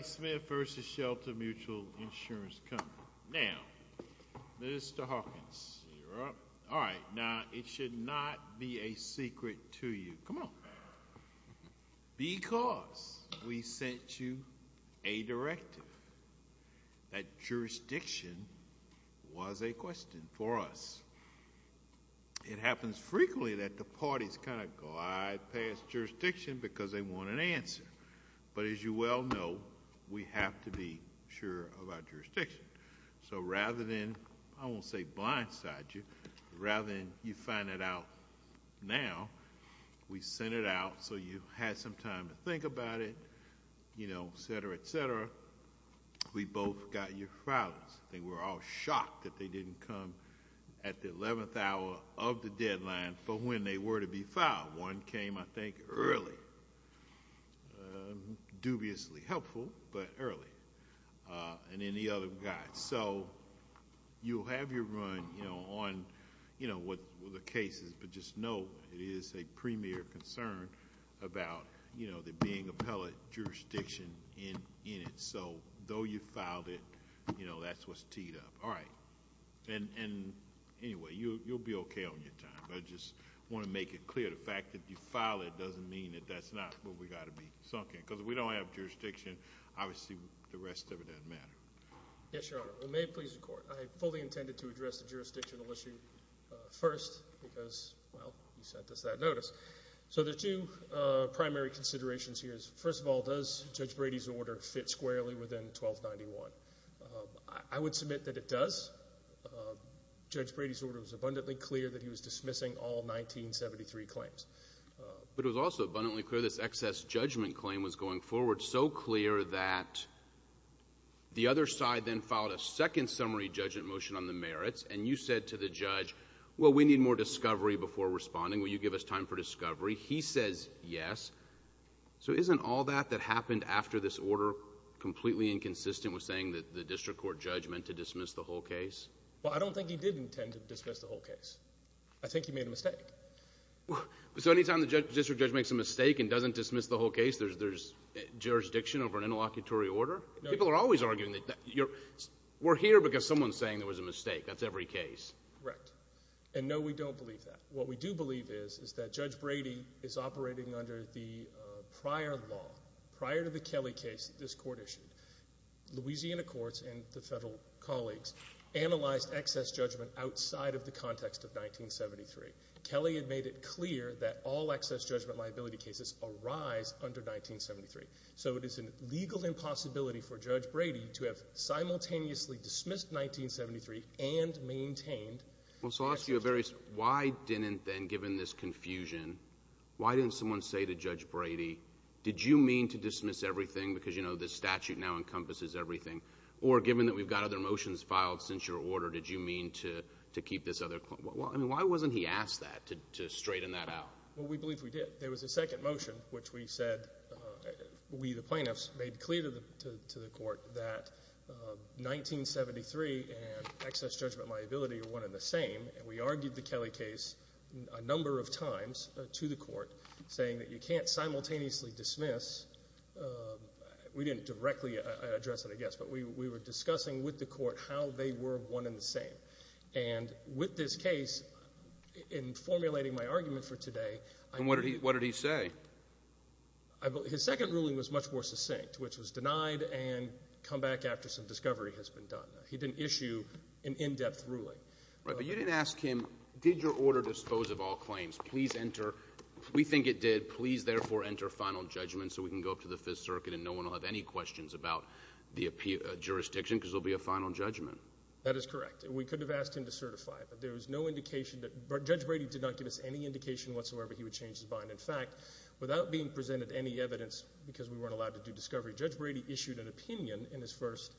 Now, Mr. Hawkins, you're up. All right. Now, it should not be a secret to you. Come on. Because we sent you a directive that jurisdiction was a question for us. It happens frequently that the parties kind of glide past jurisdiction because they want an answer. But as you well know, we have to be sure of our jurisdiction. So rather than, I won't say blindside you, rather than you find it out now, we sent it out so you had some time to think about it, you know, et cetera, et cetera. We both got your filings. They were all shocked that they didn't come at the 11th hour of the deadline for when they were to be filed. One came, I think, early. Dubiously helpful, but early. And then the other guy. So you'll have your run on, you know, what the case is. But just know it is a premier concern about, you know, the being appellate jurisdiction in it. So though you filed it, you know, that's what's teed up. All right. And anyway, you'll be okay on your time. I just want to make it clear, the fact that you filed it doesn't mean that that's not what we've got to be sunk in. Because if we don't have jurisdiction, obviously the rest of it doesn't matter. Yes, Your Honor. May it please the Court. I fully intended to address the jurisdictional issue first because, well, you sent us that notice. So there are two primary considerations here. First of all, does Judge Brady's order fit squarely within 1291? I would submit that it does. Judge Brady's order was abundantly clear that he was dismissing all 1973 claims. But it was also abundantly clear this excess judgment claim was going forward so clear that the other side then filed a second summary judgment motion on the merits. And you said to the judge, well, we need more discovery before responding. Will you give us time for discovery? He says yes. So isn't all that that happened after this order completely inconsistent with saying that the district court judge meant to dismiss the whole case? Well, I don't think he did intend to dismiss the whole case. I think he made a mistake. So any time the district judge makes a mistake and doesn't dismiss the whole case, there's jurisdiction over an interlocutory order? People are always arguing that we're here because someone's saying there was a mistake. That's every case. Correct. And, no, we don't believe that. What we do believe is is that Judge Brady is operating under the prior law, prior to the Kelly case that this court issued. Louisiana courts and the federal colleagues analyzed excess judgment outside of the context of 1973. Kelly had made it clear that all excess judgment liability cases arise under 1973. So it is a legal impossibility for Judge Brady to have simultaneously dismissed 1973 and maintained. Well, so I'll ask you a very – why didn't then, given this confusion, why didn't someone say to Judge Brady, did you mean to dismiss everything because, you know, this statute now encompasses everything? Or given that we've got other motions filed since your order, did you mean to keep this other – I mean, why wasn't he asked that, to straighten that out? Well, we believe we did. There was a second motion which we said – we, the plaintiffs, made clear to the court that 1973 and excess judgment liability are one and the same, and we argued the Kelly case a number of times to the court, saying that you can't simultaneously dismiss – we didn't directly address it, I guess, but we were discussing with the court how they were one and the same. And with this case, in formulating my argument for today, I – And what did he say? His second ruling was much more succinct, which was denied and come back after some discovery has been done. He didn't issue an in-depth ruling. Right. But you didn't ask him, did your order dispose of all claims? Please enter – we think it did. Please, therefore, enter final judgment so we can go up to the Fifth Circuit and no one will have any questions about the jurisdiction because there will be a final judgment. That is correct. We could have asked him to certify, but there was no indication that – Judge Brady did not give us any indication whatsoever he would change his mind. In fact, without being presented any evidence because we weren't allowed to do discovery, Judge Brady issued an opinion in his first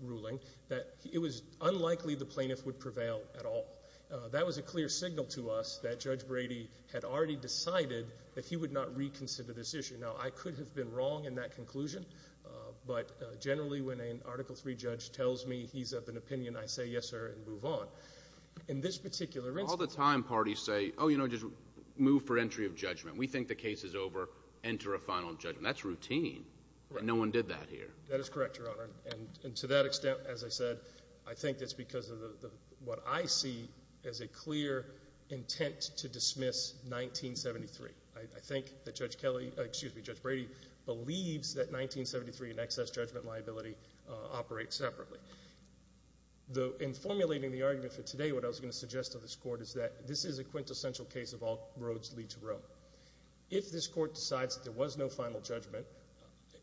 ruling that it was unlikely the plaintiff would prevail at all. That was a clear signal to us that Judge Brady had already decided that he would not reconsider this issue. Now, I could have been wrong in that conclusion, but generally when an Article III judge tells me he's of an opinion, I say yes, sir, and move on. In this particular instance – All the time parties say, oh, you know, just move for entry of judgment. We think the case is over. Enter a final judgment. That's routine. No one did that here. That is correct, Your Honor, and to that extent, as I said, I think it's because of what I see as a clear intent to dismiss 1973. I think that Judge Kelly – excuse me, Judge Brady believes that 1973 and excess judgment liability operate separately. In formulating the argument for today, what I was going to suggest to this Court is that this is a quintessential case of all roads lead to Rome. If this Court decides that there was no final judgment,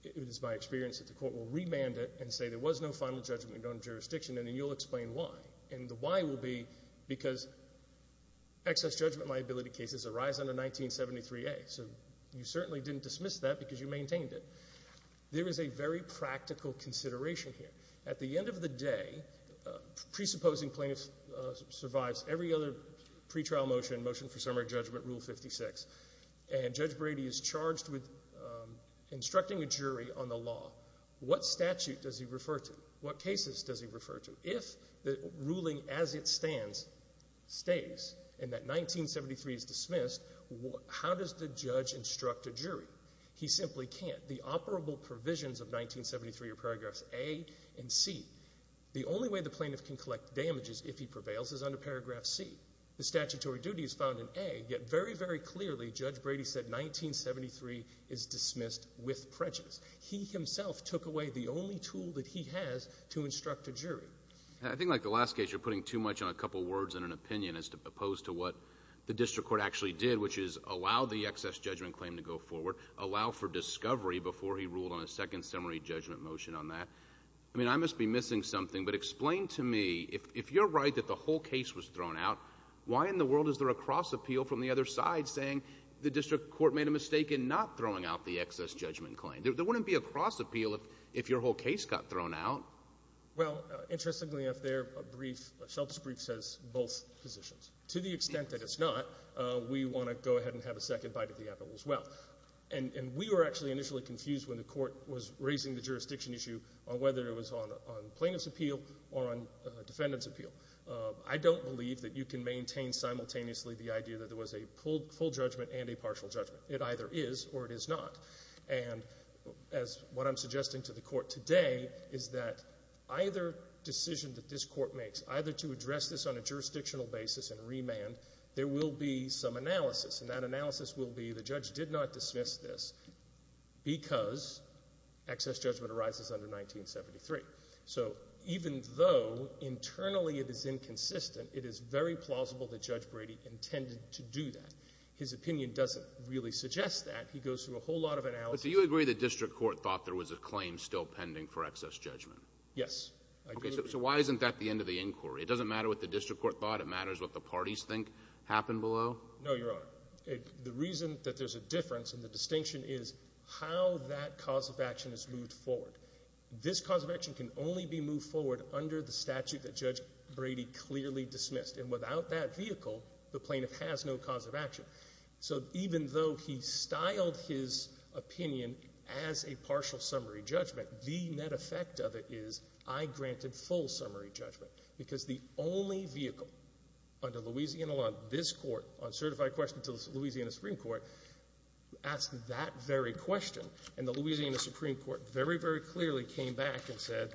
it is my experience that the Court will remand it and say there was no final judgment under jurisdiction, and then you'll explain why. And the why will be because excess judgment liability cases arise under 1973A. So you certainly didn't dismiss that because you maintained it. There is a very practical consideration here. At the end of the day, presupposing plaintiff survives every other pretrial motion, motion for summary judgment, Rule 56, and Judge Brady is charged with instructing a jury on the law, what statute does he refer to? What cases does he refer to? If the ruling as it stands stays and that 1973 is dismissed, how does the judge instruct a jury? He simply can't. The operable provisions of 1973 are paragraphs A and C. The only way the plaintiff can collect damages if he prevails is under paragraph C. The statutory duty is found in A, yet very, very clearly Judge Brady said 1973 is dismissed with prejudice. He himself took away the only tool that he has to instruct a jury. I think like the last case, you're putting too much on a couple words and an opinion as opposed to what the district court actually did, which is allow the excess judgment claim to go forward, allow for discovery before he ruled on a second summary judgment motion on that. I mean, I must be missing something, but explain to me, if you're right that the whole case was thrown out, why in the world is there a cross-appeal from the other side saying the district court made a mistake in not throwing out the excess judgment claim? There wouldn't be a cross-appeal if your whole case got thrown out. Well, interestingly enough, their brief, Shelter's brief, says both positions. To the extent that it's not, we want to go ahead and have a second bite of the apple as well. And we were actually initially confused when the Court was raising the jurisdiction issue on whether it was on plaintiff's appeal or on defendant's appeal. I don't believe that you can maintain simultaneously the idea that there was a full judgment and a partial judgment. It either is or it is not. And as what I'm suggesting to the Court today is that either decision that this Court makes, either to address this on a jurisdictional basis and remand, there will be some analysis. And that analysis will be the judge did not dismiss this because excess judgment arises under 1973. So even though internally it is inconsistent, it is very plausible that Judge Brady intended to do that. His opinion doesn't really suggest that. He goes through a whole lot of analysis. But do you agree the district court thought there was a claim still pending for excess judgment? Yes, I do. Okay. So why isn't that the end of the inquiry? It doesn't matter what the district court thought? It matters what the parties think happened below? No, Your Honor. The reason that there's a difference and the distinction is how that cause of action is moved forward. This cause of action can only be moved forward under the statute that Judge Brady clearly dismissed. And without that vehicle, the plaintiff has no cause of action. So even though he styled his opinion as a partial summary judgment, the net effect of it is I granted full summary judgment, because the only vehicle under Louisiana law, this Court, on certified questions to the Louisiana Supreme Court, asked that very question. And the Louisiana Supreme Court very, very clearly came back and said,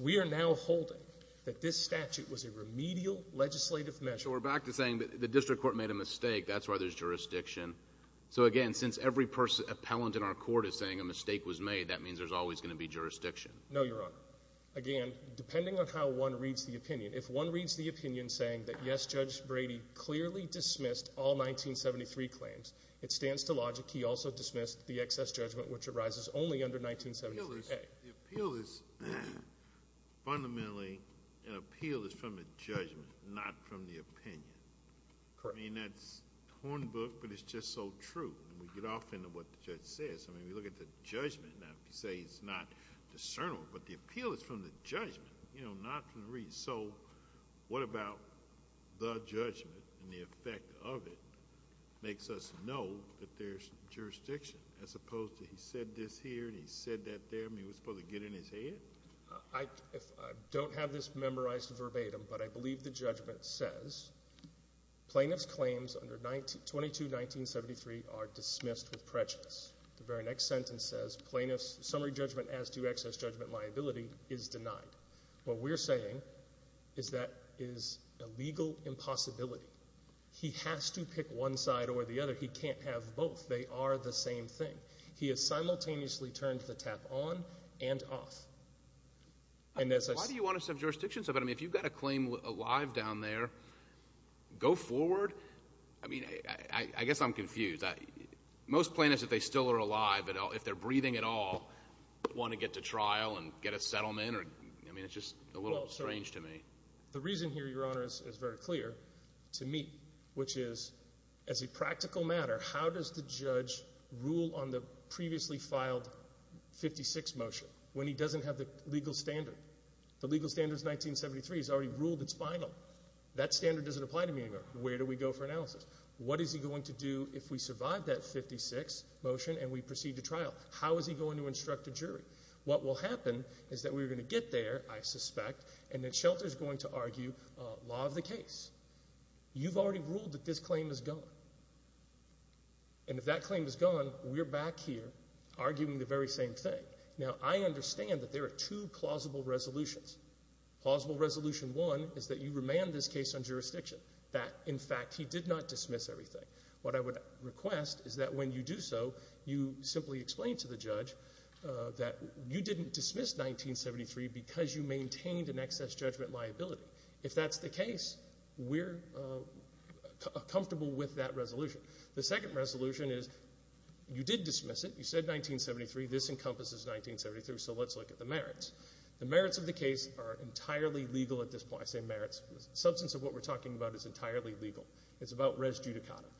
we are now holding that this statute was a remedial legislative measure. So we're back to saying that the district court made a mistake. That's why there's jurisdiction. So, again, since every person, appellant in our court is saying a mistake was made, that means there's always going to be jurisdiction. No, Your Honor. Again, depending on how one reads the opinion, if one reads the opinion saying that, yes, Judge Brady clearly dismissed all 1973 claims, it stands to logic he also dismissed the excess judgment, which arises only under 1973a. The appeal is fundamentally, an appeal is from a judgment, not from the opinion. Correct. I mean, that's hornbooked, but it's just so true. And we get off into what the judge says. I mean, we look at the judgment. Now, if you say it's not discernible, but the appeal is from the judgment, you know, not from the reason. So what about the judgment and the effect of it makes us know that there's jurisdiction, as opposed to he said this here and he said that there. I mean, was it supposed to get in his head? I don't have this memorized verbatim, but I believe the judgment says plaintiff's claims under 22-1973 are dismissed with prejudice. The very next sentence says plaintiff's summary judgment as to excess judgment liability is denied. What we're saying is that is a legal impossibility. He has to pick one side or the other. He can't have both. They are the same thing. He has simultaneously turned the tap on and off. Why do you want to have jurisdiction? I mean, if you've got a claim alive down there, go forward. I mean, I guess I'm confused. Most plaintiffs, if they still are alive, if they're breathing at all, want to get to trial and get a settlement? I mean, it's just a little strange to me. The reason here, Your Honor, is very clear to me, which is as a practical matter, how does the judge rule on the previously filed 56 motion when he doesn't have the legal standard? The legal standard is 1973. It's already ruled it's final. That standard doesn't apply to me anymore. Where do we go for analysis? What is he going to do if we survive that 56 motion and we proceed to trial? How is he going to instruct a jury? What will happen is that we're going to get there, I suspect, and then Shelter's going to argue law of the case. You've already ruled that this claim is gone. And if that claim is gone, we're back here arguing the very same thing. Now, I understand that there are two plausible resolutions. Plausible resolution one is that you remand this case on jurisdiction, that, in fact, he did not dismiss everything. What I would request is that when you do so, you simply explain to the judge that you didn't dismiss 1973 because you maintained an excess judgment liability. If that's the case, we're comfortable with that resolution. The second resolution is you did dismiss it. You said 1973. This encompasses 1973, so let's look at the merits. The merits of the case are entirely legal at this point. I say merits. The substance of what we're talking about is entirely legal. It's about res judicata.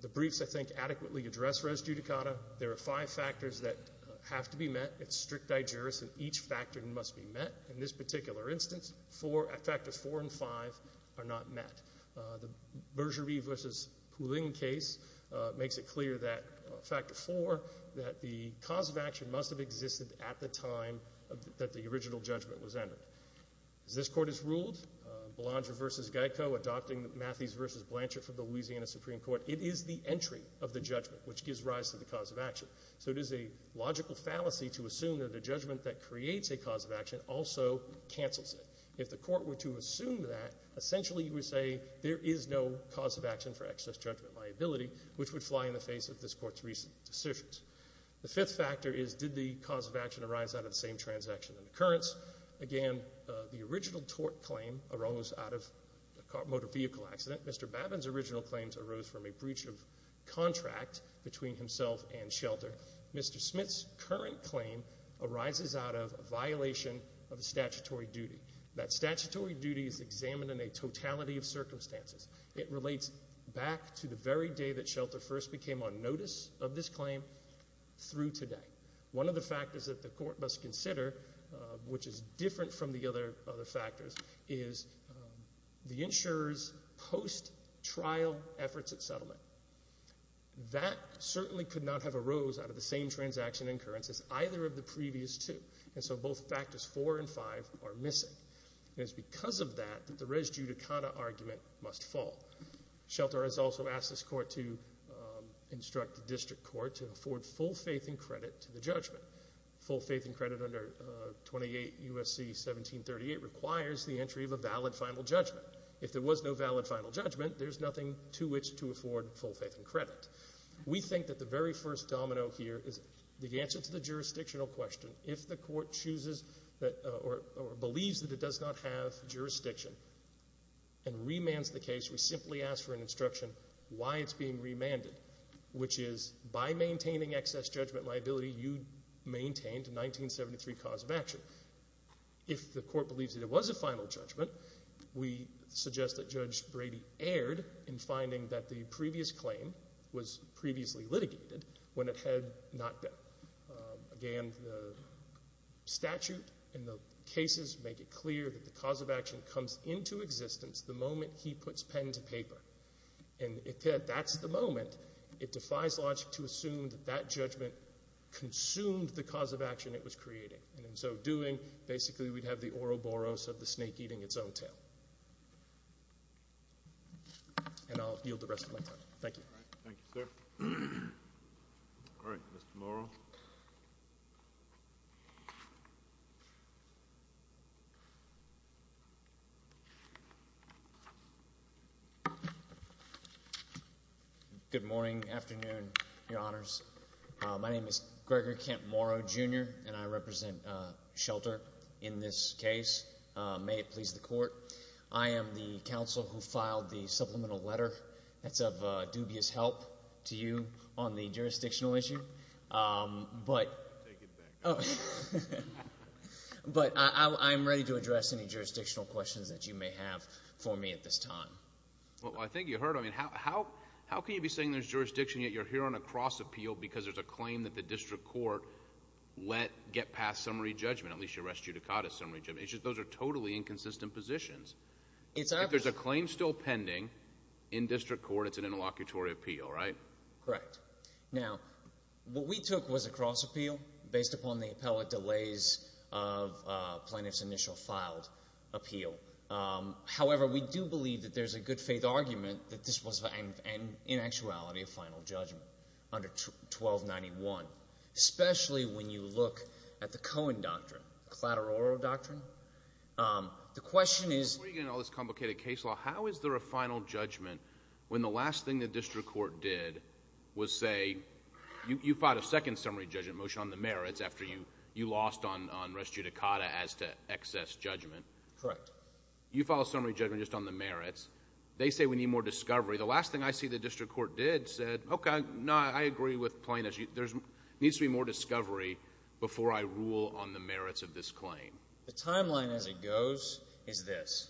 The briefs, I think, adequately address res judicata. There are five factors that have to be met. It's strict digeris, and each factor must be met. In this particular instance, factors four and five are not met. The Bergerie v. Poulin case makes it clear that factor four, that the cause of action must have existed at the time that the original judgment was entered. As this Court has ruled, Belanger v. Geico, adopting Matthews v. Blanchard from the Louisiana Supreme Court, it is the entry of the judgment which gives rise to the cause of action. So it is a logical fallacy to assume that a judgment that creates a cause of action also cancels it. If the Court were to assume that, essentially you would say there is no cause of action for excess judgment liability, which would fly in the face of this Court's recent decisions. The fifth factor is did the cause of action arise out of the same transaction and occurrence? Again, the original tort claim arose out of a motor vehicle accident. Mr. Babin's original claims arose from a breach of contract between himself and Shelter. Mr. Smith's current claim arises out of a violation of a statutory duty. That statutory duty is examined in a totality of circumstances. It relates back to the very day that Shelter first became on notice of this claim through today. One of the factors that the Court must consider, which is different from the other factors, is the insurer's post-trial efforts at settlement. That certainly could not have arose out of the same transaction and occurrence as either of the previous two, and so both factors four and five are missing. It is because of that that the res judicata argument must fall. Shelter has also asked this Court to instruct the District Court to afford full faith and credit to the judgment. Full faith and credit under 28 U.S.C. 1738 requires the entry of a valid final judgment. If there was no valid final judgment, there's nothing to which to afford full faith and credit. We think that the very first domino here is the answer to the jurisdictional question. If the Court chooses or believes that it does not have jurisdiction and remands the case, we simply ask for an instruction why it's being remanded, which is by maintaining excess judgment liability, you maintained a 1973 cause of action. If the Court believes that it was a final judgment, we suggest that Judge Brady erred in finding that the previous claim was previously litigated when it had not been. Again, the statute and the cases make it clear that the cause of action comes into existence the moment he puts pen to paper. And if that's the moment, it defies logic to assume that that judgment consumed the cause of action it was creating. And in so doing, basically we'd have the Ouroboros of the snake eating its own tail. And I'll yield the rest of my time. Thank you. Thank you, sir. All right, Mr. Morrow. Good morning, afternoon, Your Honors. My name is Gregor Kent Morrow, Jr., and I represent Shelter in this case. May it please the Court, I am the counsel who filed the supplemental letter. That's of dubious help to you on the jurisdictional issue, but I'm ready to address any jurisdictional questions that you may have for me at this time. Well, I think you heard. I mean, how can you be saying there's jurisdiction yet you're here on a cross appeal because there's a claim that the district court let get past summary judgment, at least your rest judicata summary judgment? Those are totally inconsistent positions. If there's a claim still pending in district court, it's an interlocutory appeal, right? Correct. Now, what we took was a cross appeal based upon the appellate delays of plaintiff's initial filed appeal. However, we do believe that there's a good faith argument that this was in actuality a final judgment under 1291, especially when you look at the Cohen Doctrine, collateral doctrine. The question is — Before you get into all this complicated case law, how is there a final judgment when the last thing the district court did was say, you filed a second summary judgment motion on the merits after you lost on rest judicata as to excess judgment. Correct. You filed a summary judgment just on the merits. They say we need more discovery. The last thing I see the district court did said, okay, no, I agree with plaintiffs. There needs to be more discovery before I rule on the merits of this claim. The timeline as it goes is this.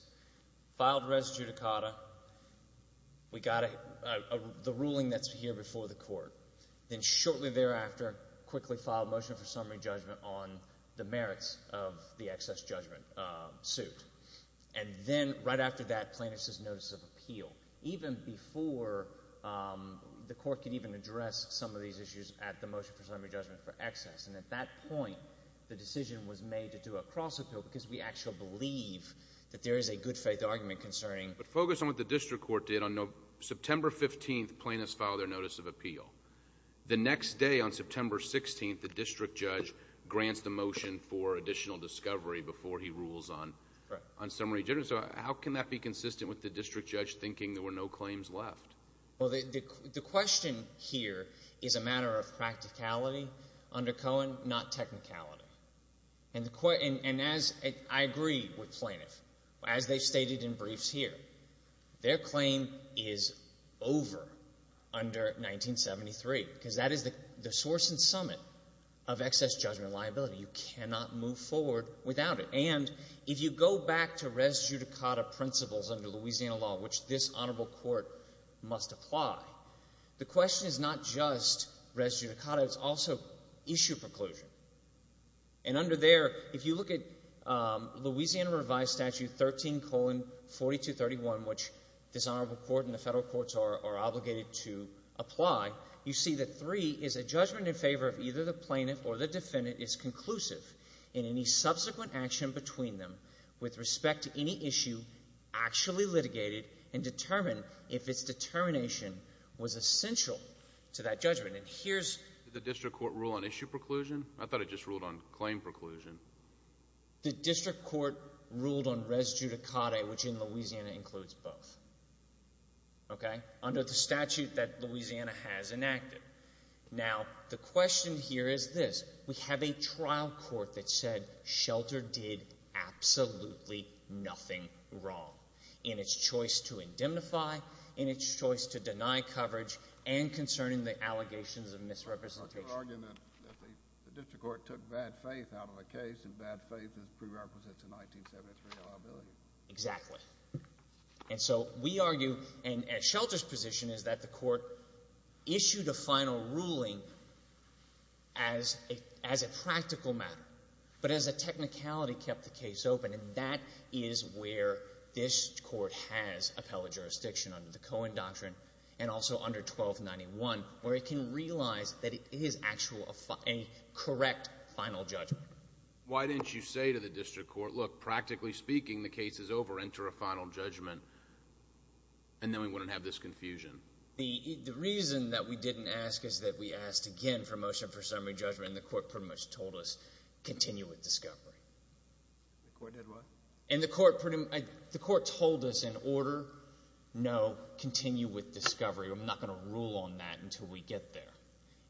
Filed rest judicata. We got the ruling that's here before the court. Then shortly thereafter, quickly filed motion for summary judgment on the merits of the excess judgment suit. And then right after that, plaintiff's notice of appeal, even before the court could even address some of these issues at the motion for summary judgment for excess. And at that point, the decision was made to do a cross appeal because we actually believe that there is a good-faith argument concerning — But focus on what the district court did. On September 15th, plaintiffs filed their notice of appeal. The next day, on September 16th, the district judge grants the motion for additional discovery before he rules on summary judgment. So how can that be consistent with the district judge thinking there were no claims left? Well, the question here is a matter of practicality under Cohen, not technicality. And as I agree with plaintiffs, as they've stated in briefs here, their claim is over under 1973 because that is the source and summit of excess judgment liability. You cannot move forward without it. And if you go back to res judicata principles under Louisiana law, which this honorable court must apply, the question is not just res judicata. It's also issue preclusion. And under there, if you look at Louisiana revised statute 13, 40 to 31, which this honorable court and the Federal courts are obligated to apply, you see that 3 is a judgment in favor of either the plaintiff or the defendant is conclusive in any subsequent action between them with respect to any issue actually litigated and determined if its determination was essential to that judgment. And here's… Did the district court rule on issue preclusion? I thought it just ruled on claim preclusion. The district court ruled on res judicata, which in Louisiana includes both. Okay? Under the statute that Louisiana has enacted. Now, the question here is this. We have a trial court that said Shelter did absolutely nothing wrong in its choice to indemnify, in its choice to deny coverage, and concerning the allegations of misrepresentation. I'm not going to argue that the district court took bad faith out of the case, and bad faith is prerequisite to 1973 liability. Exactly. And so we argue, and Shelter's position is that the court issued a final ruling as a practical matter, but as a technicality kept the case open, and that is where this court has appellate jurisdiction under the Cohen Doctrine and also under 1291, where it can realize that it is actually a correct final judgment. Why didn't you say to the district court, look, practically speaking, the case is over, enter a final judgment, and then we wouldn't have this confusion? The reason that we didn't ask is that we asked again for a motion for summary judgment, and the court pretty much told us continue with discovery. The court did what? And the court told us in order, no, continue with discovery. I'm not going to rule on that until we get there.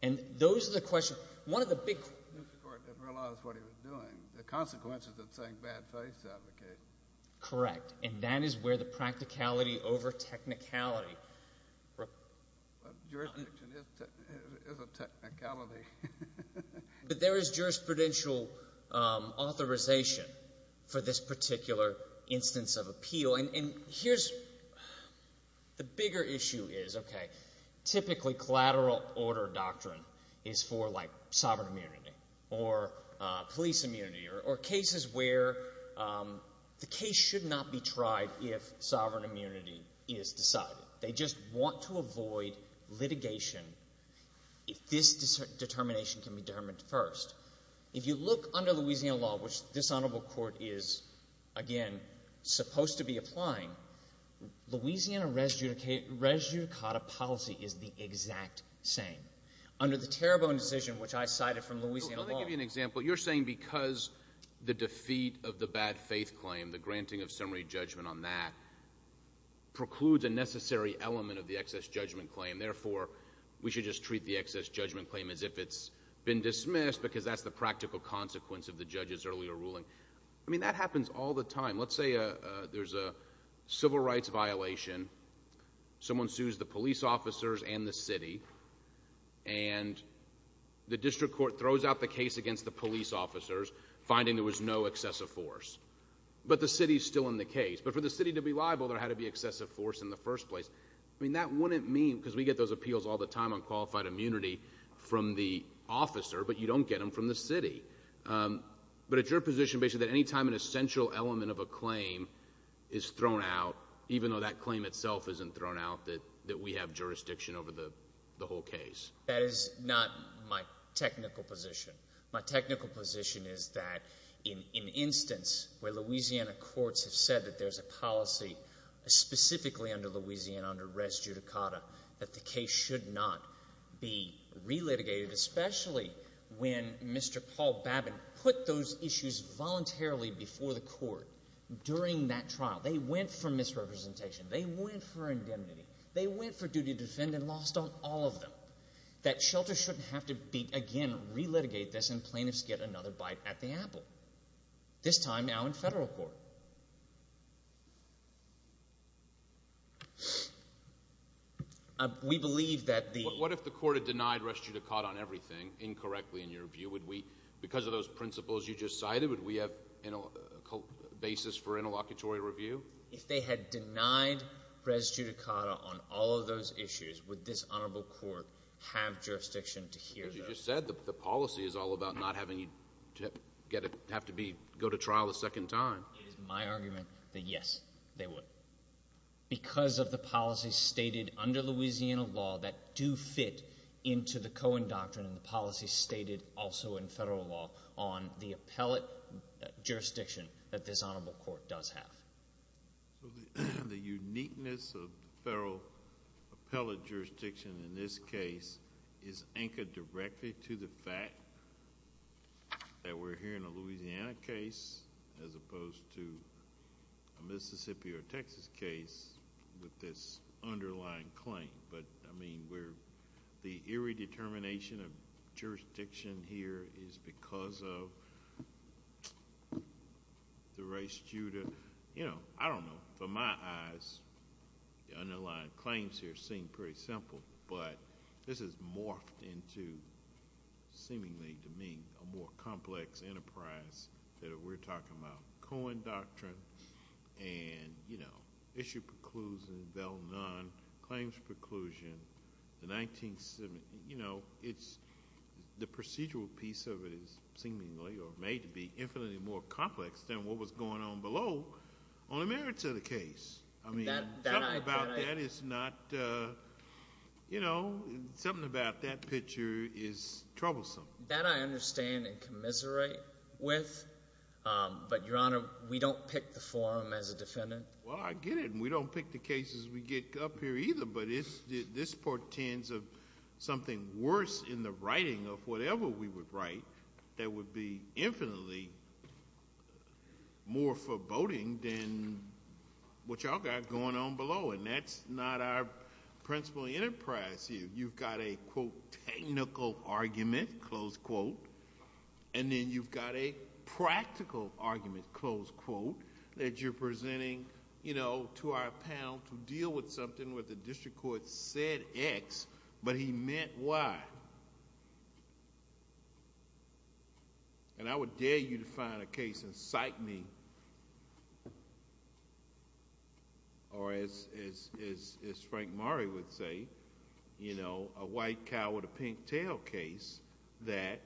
And those are the questions. The district court didn't realize what he was doing. The consequences of saying bad faith out of the case. Correct. And that is where the practicality over technicality. Jurisdiction is a technicality. But there is jurisprudential authorization for this particular instance of appeal. And here's the bigger issue is, okay, typically collateral order doctrine is for like sovereign immunity or police immunity or cases where the case should not be tried if sovereign immunity is decided. They just want to avoid litigation if this determination can be determined first. If you look under Louisiana law, which this honorable court is, again, supposed to be applying, Louisiana res judicata policy is the exact same. Under the Terrebonne decision, which I cited from Louisiana law. Let me give you an example. You're saying because the defeat of the bad faith claim, the granting of summary judgment on that, precludes a necessary element of the excess judgment claim. Therefore, we should just treat the excess judgment claim as if it's been dismissed because that's the practical consequence of the judge's earlier ruling. I mean, that happens all the time. Let's say there's a civil rights violation. Someone sues the police officers and the city. And the district court throws out the case against the police officers, finding there was no excessive force. But the city is still in the case. But for the city to be liable, there had to be excessive force in the first place. I mean, that wouldn't mean, because we get those appeals all the time on qualified immunity from the officer, but you don't get them from the city. But it's your position basically that any time an essential element of a claim is thrown out, even though that claim itself isn't thrown out, that we have jurisdiction over the whole case. That is not my technical position. My technical position is that in instance where Louisiana courts have said that there's a policy, specifically under Louisiana, under res judicata, that the case should not be re-litigated, especially when Mr. Paul Babin put those issues voluntarily before the court during that trial. They went for misrepresentation. They went for indemnity. They went for duty to defend and lost on all of them. That shelter shouldn't have to be, again, re-litigate this and plaintiffs get another bite at the apple, this time now in federal court. We believe that the— What if the court had denied res judicata on everything incorrectly in your view? Would we, because of those principles you just cited, would we have a basis for interlocutory review? If they had denied res judicata on all of those issues, would this honorable court have jurisdiction to hear those? As you just said, the policy is all about not having you have to go to trial a second time. It is my argument that, yes, they would. Because of the policy stated under Louisiana law that do fit into the Cohen Doctrine and the policy stated also in federal law on the appellate jurisdiction that this honorable court does have. The uniqueness of the federal appellate jurisdiction in this case is anchored directly to the fact that we're hearing a Louisiana case as opposed to a Mississippi or Texas case with this underlying claim. The irredetermination of jurisdiction here is because of the res judicata. I don't know. From my eyes, the underlying claims here seem pretty simple, but this has morphed into seemingly to me a more complex enterprise that we're talking about. The Cohen Doctrine and, you know, issue preclusion, bell none, claims preclusion, the 1970s. You know, it's the procedural piece of it is seemingly or may be infinitely more complex than what was going on below on the merits of the case. I mean, something about that is not – something about that picture is troublesome. That I understand and commiserate with, but, Your Honor, we don't pick the forum as a defendant. Well, I get it, and we don't pick the cases we get up here either, but this portends of something worse in the writing of whatever we would write that would be infinitely more foreboding than what y'all got going on below, and that's not our principal enterprise here. You've got a, quote, technical argument, close quote, and then you've got a practical argument, close quote, that you're presenting, you know, to our panel to deal with something where the district court said X, but he meant Y. And I would dare you to find a case and cite me, or as Frank Murray would say, you know, a white cow with a pink tail case that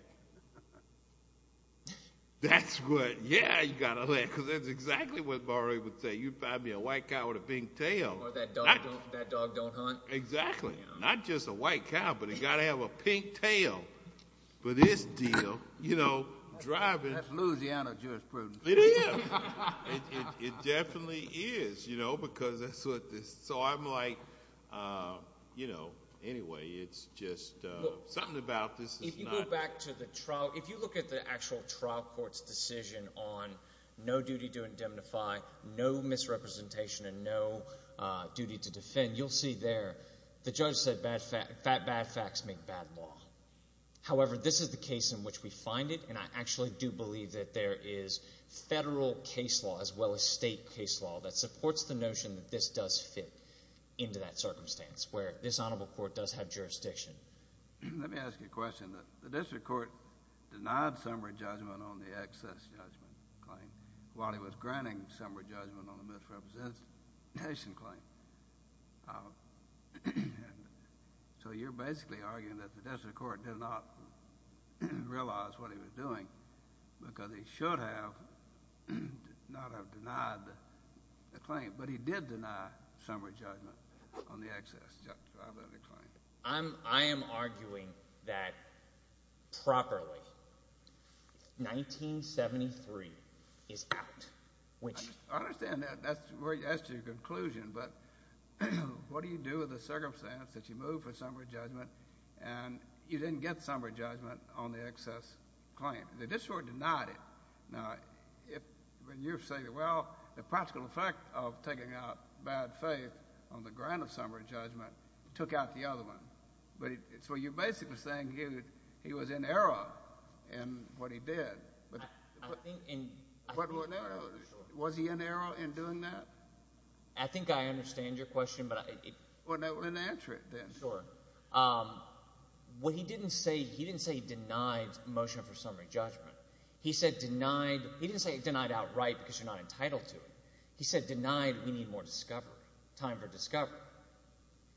that's what, yeah, you got to let, because that's exactly what Murray would say. You find me a white cow with a pink tail. Or that dog don't hunt. Exactly. Not just a white cow, but it's got to have a pink tail for this deal, you know, driving. That's Louisiana jurisprudence. It is. It definitely is, you know, because that's what this, so I'm like, you know, anyway, it's just something about this. If you go back to the trial, if you look at the actual trial court's decision on no duty to indemnify, no misrepresentation and no duty to defend, you'll see there the judge said bad facts make bad law. However, this is the case in which we find it, and I actually do believe that there is federal case law as well as state case law that supports the notion that this does fit into that circumstance, where this honorable court does have jurisdiction. Let me ask you a question. The district court denied summary judgment on the excess judgment claim while it was granting summary judgment on the misrepresentation claim. So you're basically arguing that the district court did not realize what he was doing because he should not have denied the claim, but he did deny summary judgment on the excess judgment claim. I am arguing that properly 1973 is out, which— I understand that. That's to your conclusion. But what do you do with the circumstance that you move for summary judgment and you didn't get summary judgment on the excess claim? The district court denied it. Now, when you say, well, the practical effect of taking out bad faith on the grant of summary judgment took out the other one. So you're basically saying he was in error in what he did. I think in— Was he in error in doing that? I think I understand your question, but I— Well, then answer it then. Sure. Well, he didn't say he denied motion for summary judgment. He said denied—he didn't say he denied outright because you're not entitled to it. He said denied we need more discovery, time for discovery.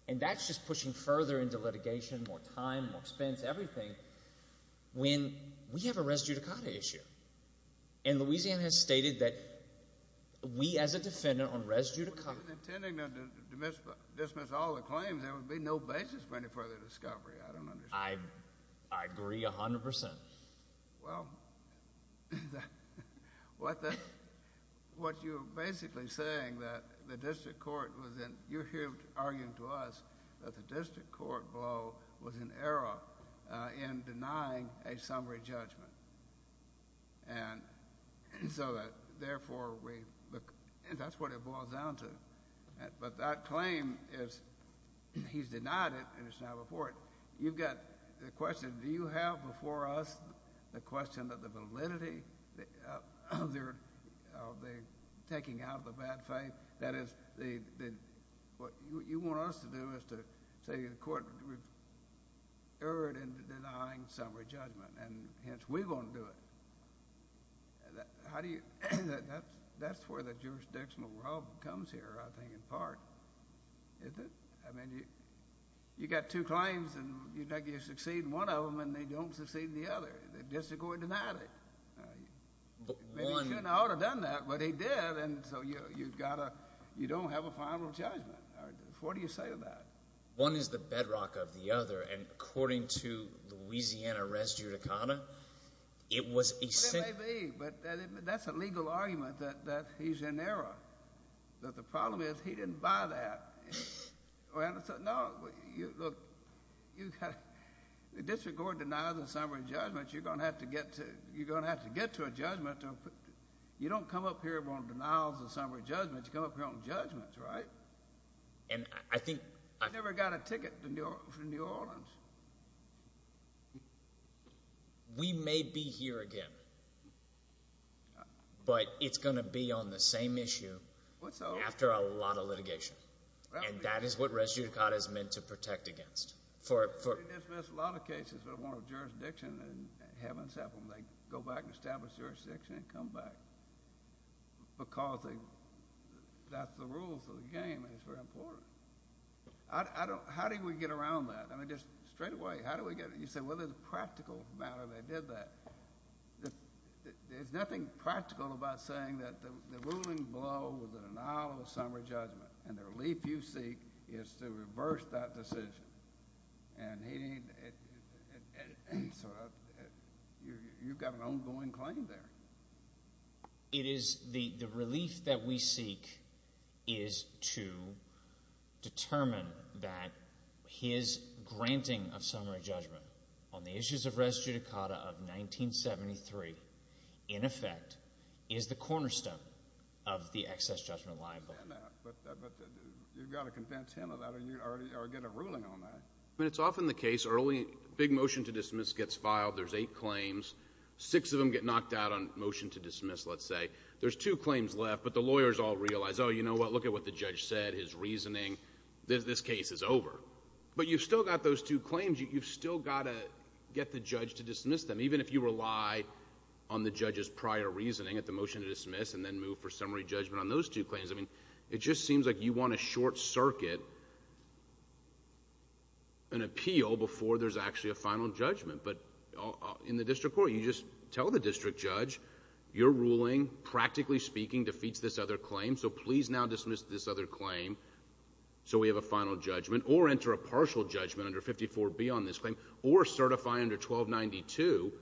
And that's just pushing further into litigation, more time, more expense, everything, when we have a res judicata issue. And Louisiana has stated that we as a defendant on res judicata— If you're intending to dismiss all the claims, there would be no basis for any further discovery. I don't understand. I agree 100 percent. Well, what you're basically saying, that the district court was in— you're here arguing to us that the district court blow was in error in denying a summary judgment. And so therefore we—and that's what it boils down to. But that claim is—he's denied it, and it's not before it. You've got the question, do you have before us the question of the validity of their taking out of the bad faith? That is, what you want us to do is to say the court erred in denying summary judgment, and hence we're going to do it. How do you—that's where the jurisdictional rub comes here, I think, in part. Is it? I mean, you've got two claims, and you succeed in one of them, and they don't succeed in the other. The district court denied it. One— Maybe he shouldn't have done that, but he did, and so you've got to—you don't have a final judgment. What do you say to that? One is the bedrock of the other, and according to Louisiana res judicata, it was a— Well, no, look, you've got—the district court denies a summary judgment. You're going to have to get to a judgment. You don't come up here on denials of summary judgment. You come up here on judgments, right? And I think— I never got a ticket from New Orleans. We may be here again, but it's going to be on the same issue after a lot of litigation, and that is what res judicata is meant to protect against. They dismiss a lot of cases that are warranted jurisdiction and have them settled, and they go back and establish jurisdiction and come back because that's the rules of the game, and it's very important. How do we get around that? I mean, just straightaway, how do we get—you say, well, there's a practical matter they did that. There's nothing practical about saying that the ruling below was an annulment of summary judgment, and the relief you seek is to reverse that decision. And he—so you've got an ongoing claim there. It is—the relief that we seek is to determine that his granting of summary judgment on the issues of res judicata of 1973, in effect, is the cornerstone of the excess judgment liable. But you've got to convince him of that or get a ruling on that. I mean, it's often the case early—big motion to dismiss gets filed. There's eight claims. Six of them get knocked out on motion to dismiss, let's say. There's two claims left, but the lawyers all realize, oh, you know what? Look at what the judge said, his reasoning. This case is over. But you've still got those two claims. You've still got to get the judge to dismiss them, even if you rely on the judge's prior reasoning at the motion to dismiss and then move for summary judgment on those two claims. I mean, it just seems like you want to short-circuit an appeal before there's actually a final judgment. But in the district court, you just tell the district judge, your ruling, practically speaking, defeats this other claim, so please now dismiss this other claim so we have a final judgment or enter a partial judgment under 54B on this claim or certify under 1292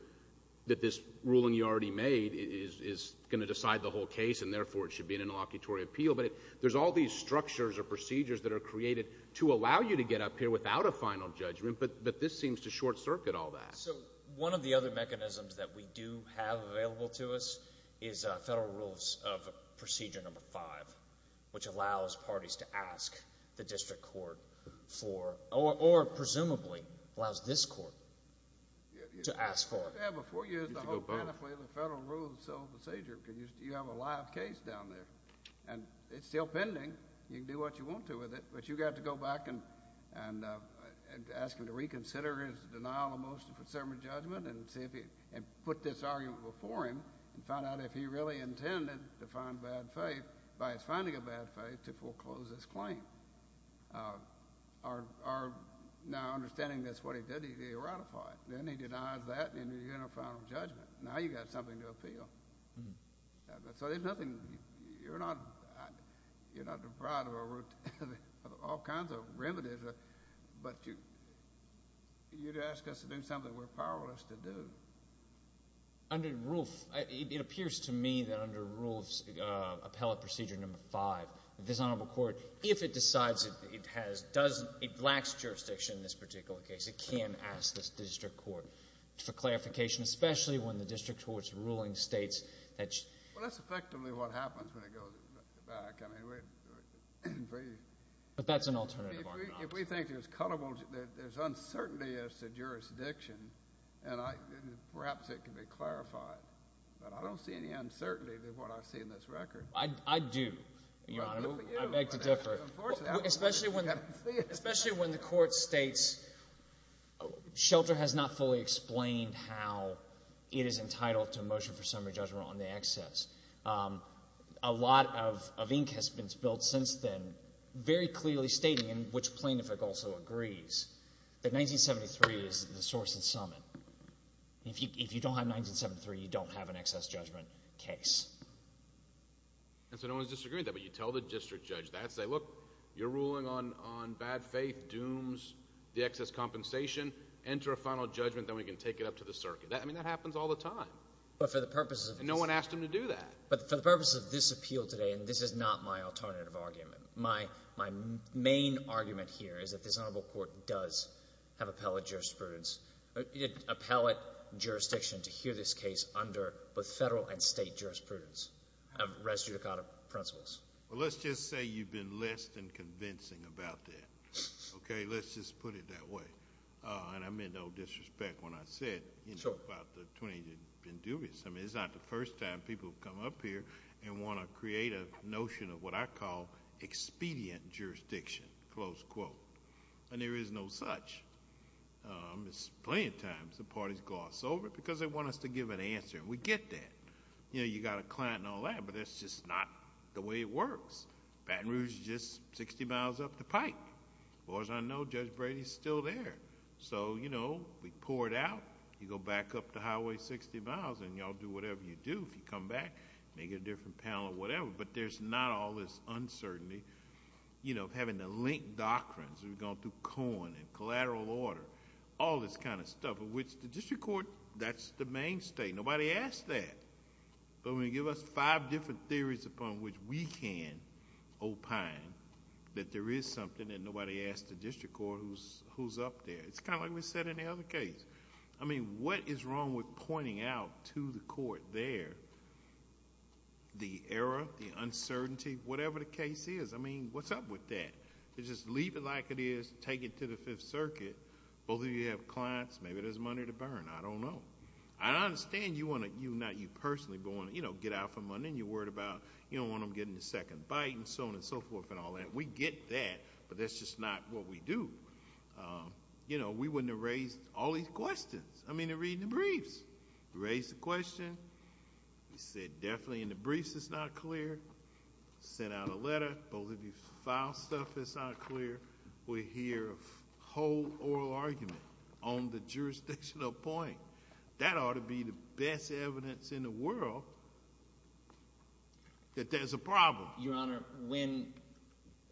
that this ruling you already made is going to decide the whole case and therefore it should be an interlocutory appeal. But there's all these structures or procedures that are created to allow you to get up here without a final judgment, but this seems to short-circuit all that. So one of the other mechanisms that we do have available to us is Federal Rules of Procedure No. 5, which allows parties to ask the district court for or presumably allows this court to ask for. Before you use the whole panoply of the Federal Rules of Procedure, you have a live case down there, and it's still pending. You can do what you want to with it, but you've got to go back and ask him to reconsider his denial of motion for sermon judgment and put this argument before him and find out if he really intended to find bad faith by his finding of bad faith to foreclose this claim. Now understanding that's what he did, he ratified it. Then he denies that and you get a final judgment. Now you've got something to appeal. So there's nothing. You're not deprived of all kinds of remedies, but you'd ask us to do something we're powerless to do. It appears to me that under Rules of Appellate Procedure No. 5, this Honorable Court, if it decides it lacks jurisdiction in this particular case, it can ask this district court for clarification, especially when the district court's ruling states that you... Well, that's effectively what happens when it goes back. But that's an alternative argument. If we think there's uncertainty as to jurisdiction, perhaps it can be clarified. But I don't see any uncertainty in what I see in this record. I do, Your Honor. I beg to differ. Especially when the court states shelter has not fully explained how it is entitled to a motion for summary judgment on the excess. A lot of ink has been spilled since then, very clearly stating, and which plaintiff also agrees, that 1973 is the source and summit. If you don't have 1973, you don't have an excess judgment case. And so no one's disagreeing with that, but you tell the district judge that, say, look, you're ruling on bad faith, dooms, the excess compensation. Enter a final judgment, then we can take it up to the circuit. I mean, that happens all the time. But for the purposes of... And no one asked him to do that. But for the purposes of this appeal today, and this is not my alternative argument, my main argument here is that this Honorable Court does have appellate jurisprudence, appellate jurisdiction to hear this case under both federal and state jurisprudence of res judicata principles. Well, let's just say you've been less than convincing about that. Okay? Let's just put it that way. And I meant no disrespect when I said... Sure.... about the 20 that have been dubious. I mean, it's not the first time people have come up here and want to create a notion of what I call expedient jurisdiction, close quote. And there is no such. It's plenty of times the parties gloss over it because they want us to give an answer. And we get that. You know, you've got a client and all that, but that's just not the way it works. Baton Rouge is just 60 miles up the pike. As far as I know, Judge Brady is still there. So, you know, we pour it out. You go back up the highway 60 miles, and you all do whatever you do. If you come back, maybe get a different panel or whatever. But there's not all this uncertainty, you know, of having to link doctrines. We've gone through Cohen and collateral order, all this kind of stuff, of which the district court, that's the mainstay. Nobody asked that. But when you give us five different theories upon which we can opine that there is something and nobody asked the district court who's up there. It's kind of like we said in the other case. I mean, what is wrong with pointing out to the court there the error, the uncertainty, whatever the case is? I mean, what's up with that? They just leave it like it is, take it to the Fifth Circuit. Both of you have clients. Maybe there's money to burn. I don't know. I understand you want to, not you personally, but want to, you know, get out for money, and you're worried about you don't want them getting the second bite and so on and so forth and all that. We get that, but that's just not what we do. You know, we wouldn't have raised all these questions. I mean, they're reading the briefs. We raised the question. We said definitely in the briefs it's not clear. Sent out a letter. Both of you filed stuff that's not clear. We hear a whole oral argument on the jurisdictional point. That ought to be the best evidence in the world that there's a problem. Your Honor, when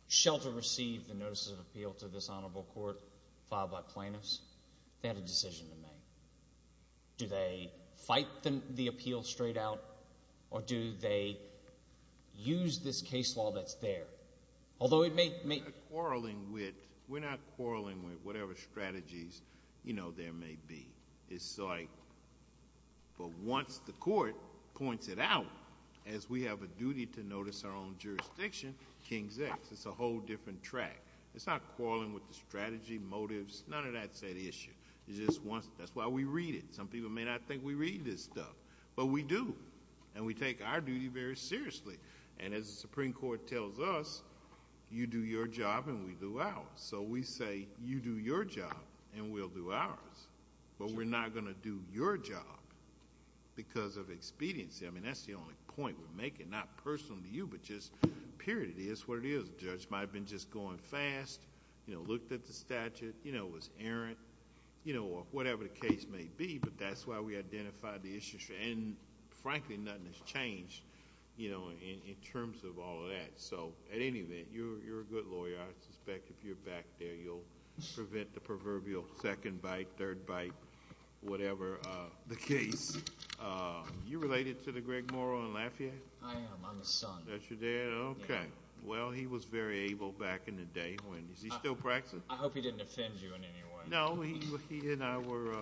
Shelter received the notice of appeal to this honorable court filed by plaintiffs, they had a decision to make. Do they fight the appeal straight out, or do they use this case law that's there? Although it may be. We're not quarreling with whatever strategies, you know, there may be. It's like, but once the court points it out, as we have a duty to notice our own jurisdiction, king's X. It's a whole different track. It's not quarreling with the strategy, motives, none of that said issue. That's why we read it. Some people may not think we read this stuff, but we do. And we take our duty very seriously. And as the Supreme Court tells us, you do your job and we do ours. So we say, you do your job and we'll do ours. But we're not going to do your job because of expediency. I mean, that's the only point we're making. Not personal to you, but just period. It is what it is. The judge might have been just going fast, you know, looked at the statute, you know, was errant. You know, whatever the case may be, but that's why we identified the issue. And, frankly, nothing has changed, you know, in terms of all of that. So, at any rate, you're a good lawyer. I suspect if you're back there, you'll prevent the proverbial second bite, third bite, whatever the case. You related to the Greg Morrow in Lafayette? I am. I'm his son. That's your dad? Okay. Well, he was very able back in the day. Is he still practicing? I hope he didn't offend you in any way. No, he and I were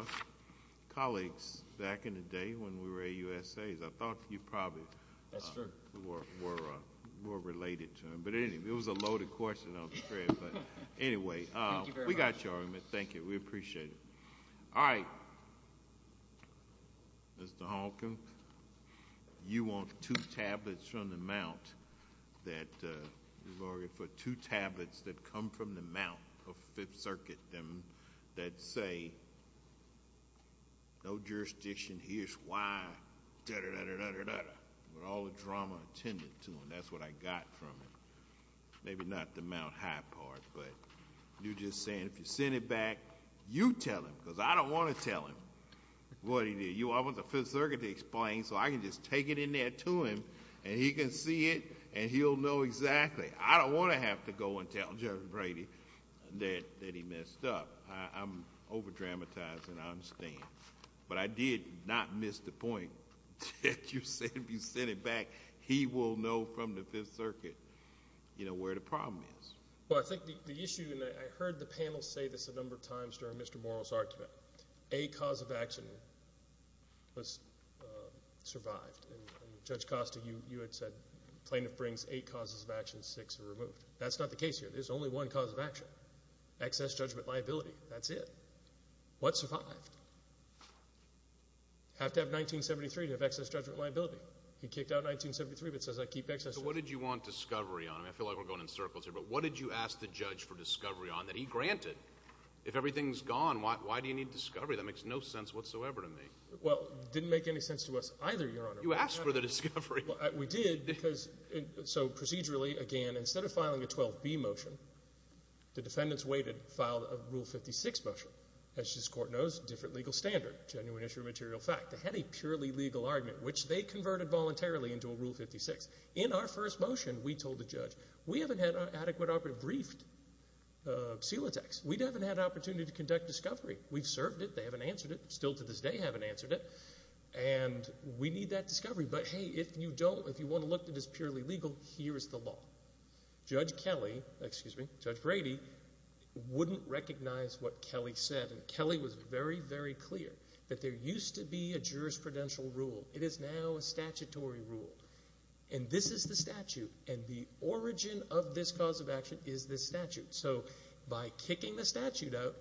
colleagues back in the day when we were AUSAs. I thought you probably were related to him. But, anyway, it was a loaded question, I'm afraid. But, anyway, we got your argument. Thank you. We appreciate it. All right. Mr. Honken, you want two tablets from the Mount that you've argued for, two tablets that come from the Mount of Fifth Circuit that say, no jurisdiction, here's why, da-da-da-da-da-da-da, with all the drama attended to them. That's what I got from it. Maybe not the Mount High part, but you're just saying if you send it back, you tell him because I don't want to tell him what he did. I want the Fifth Circuit to explain so I can just take it in there to him and he can see it and he'll know exactly. I don't want to have to go and tell Judge Brady that he messed up. I'm over-dramatizing, I understand. But I did not miss the point that you said if you send it back, he will know from the Fifth Circuit, you know, where the problem is. Well, I think the issue, and I heard the panel say this a number of times during Mr. Morrill's argument, a cause of action was survived. And Judge Costa, you had said plaintiff brings eight causes of action, six are removed. That's not the case here. There's only one cause of action, excess judgment liability. That's it. What survived? You have to have 1973 to have excess judgment liability. He kicked out 1973 but says I keep excess judgment liability. What did you want discovery on? I feel like we're going in circles here. But what did you ask the judge for discovery on that he granted? If everything's gone, why do you need discovery? That makes no sense whatsoever to me. Well, it didn't make any sense to us either, Your Honor. You asked for the discovery. We did because so procedurally, again, instead of filing a 12B motion, the defendants waited and filed a Rule 56 motion. As this Court knows, different legal standard, genuine issue of material fact. They had a purely legal argument, which they converted voluntarily into a Rule 56. In our first motion, we told the judge, we haven't had adequate operative briefed of Celotex. We haven't had an opportunity to conduct discovery. We've served it. They haven't answered it. Still to this day haven't answered it. And we need that discovery. But, hey, if you want to look at this purely legal, here is the law. Judge Kelly, excuse me, Judge Brady, wouldn't recognize what Kelly said. And Kelly was very, very clear that there used to be a jurisprudential rule. It is now a statutory rule. And this is the statute. And the origin of this cause of action is this statute. So by kicking the statute out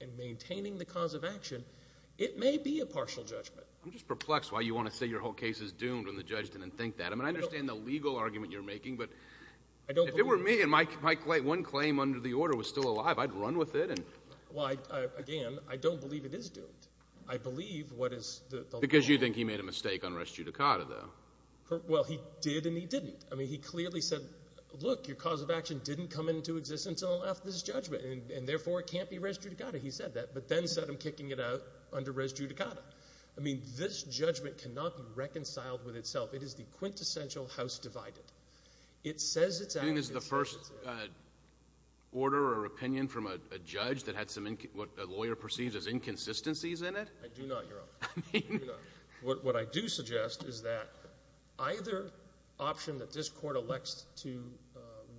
and maintaining the cause of action, it may be a partial judgment. I'm just perplexed why you want to say your whole case is doomed when the judge didn't think that. I mean I understand the legal argument you're making. But if it were me and my one claim under the order was still alive, I'd run with it. Well, again, I don't believe it is doomed. I believe what is the law. Because you think he made a mistake on res judicata, though. Well, he did and he didn't. I mean, he clearly said, look, your cause of action didn't come into existence until after this judgment, and therefore it can't be res judicata. He said that, but then said I'm kicking it out under res judicata. I mean, this judgment cannot be reconciled with itself. It is the quintessential house divided. It says it's out of existence. Do you think this is the first order or opinion from a judge that had some what a lawyer perceives as inconsistencies in it? I do not, Your Honor. I mean. What I do suggest is that either option that this court elects to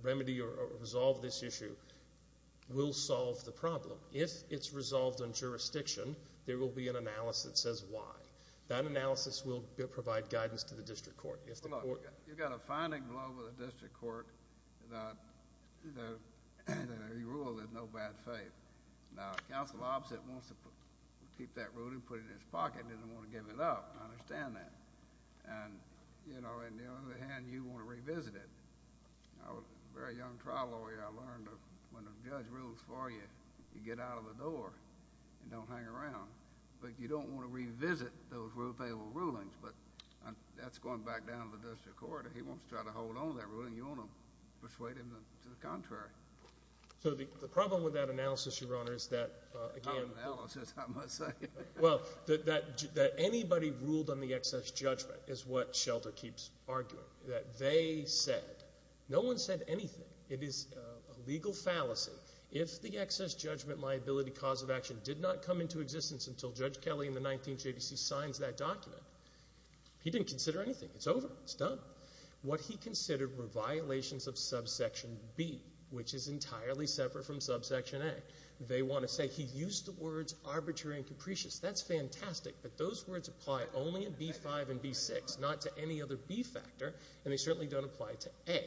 remedy or resolve this issue will solve the problem. If it's resolved in jurisdiction, there will be an analysis that says why. That analysis will provide guidance to the district court. If the court. You've got a finding blow with the district court that he ruled in no bad faith. Now, counsel opposite wants to keep that ruling, put it in his pocket, doesn't want to give it up. I understand that. And, you know, on the other hand, you want to revisit it. I was a very young trial lawyer. I learned when a judge rules for you, you get out of the door and don't hang around. But you don't want to revisit those rule-payable rulings. But that's going back down to the district court. If he wants to try to hold on to that ruling, you want to persuade him to the contrary. So the problem with that analysis, Your Honor, is that, again. Not analysis, I must say. Well, that anybody ruled on the excess judgment is what Shelter keeps arguing, that they said. No one said anything. It is a legal fallacy. If the excess judgment liability cause of action did not come into existence until Judge Kelly in the 19th JDC signs that document, he didn't consider anything. It's over. It's done. What he considered were violations of subsection B, which is entirely separate from subsection A. They want to say he used the words arbitrary and capricious. That's fantastic. But those words apply only in B-5 and B-6, not to any other B factor. And they certainly don't apply to A.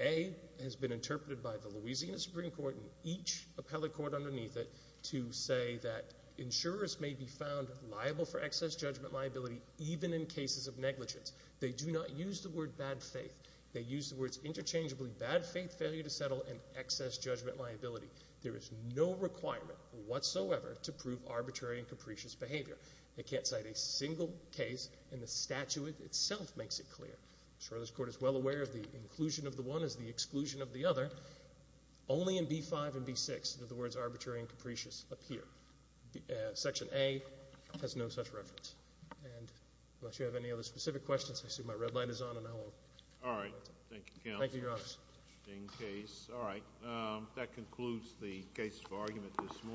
A has been interpreted by the Louisiana Supreme Court and each appellate court underneath it to say that insurers may be found liable for excess judgment liability even in cases of negligence. They do not use the word bad faith. They use the words interchangeably bad faith, failure to settle, and excess judgment liability. There is no requirement whatsoever to prove arbitrary and capricious behavior. They can't cite a single case, and the statute itself makes it clear. I'm sure this Court is well aware of the inclusion of the one is the exclusion of the other. Only in B-5 and B-6 do the words arbitrary and capricious appear. Section A has no such reference. And unless you have any other specific questions, I see my red light is on, and I will. All right. Thank you, counsel. Thank you, Your Honor. Interesting case. All right. That concludes the case for argument this morning.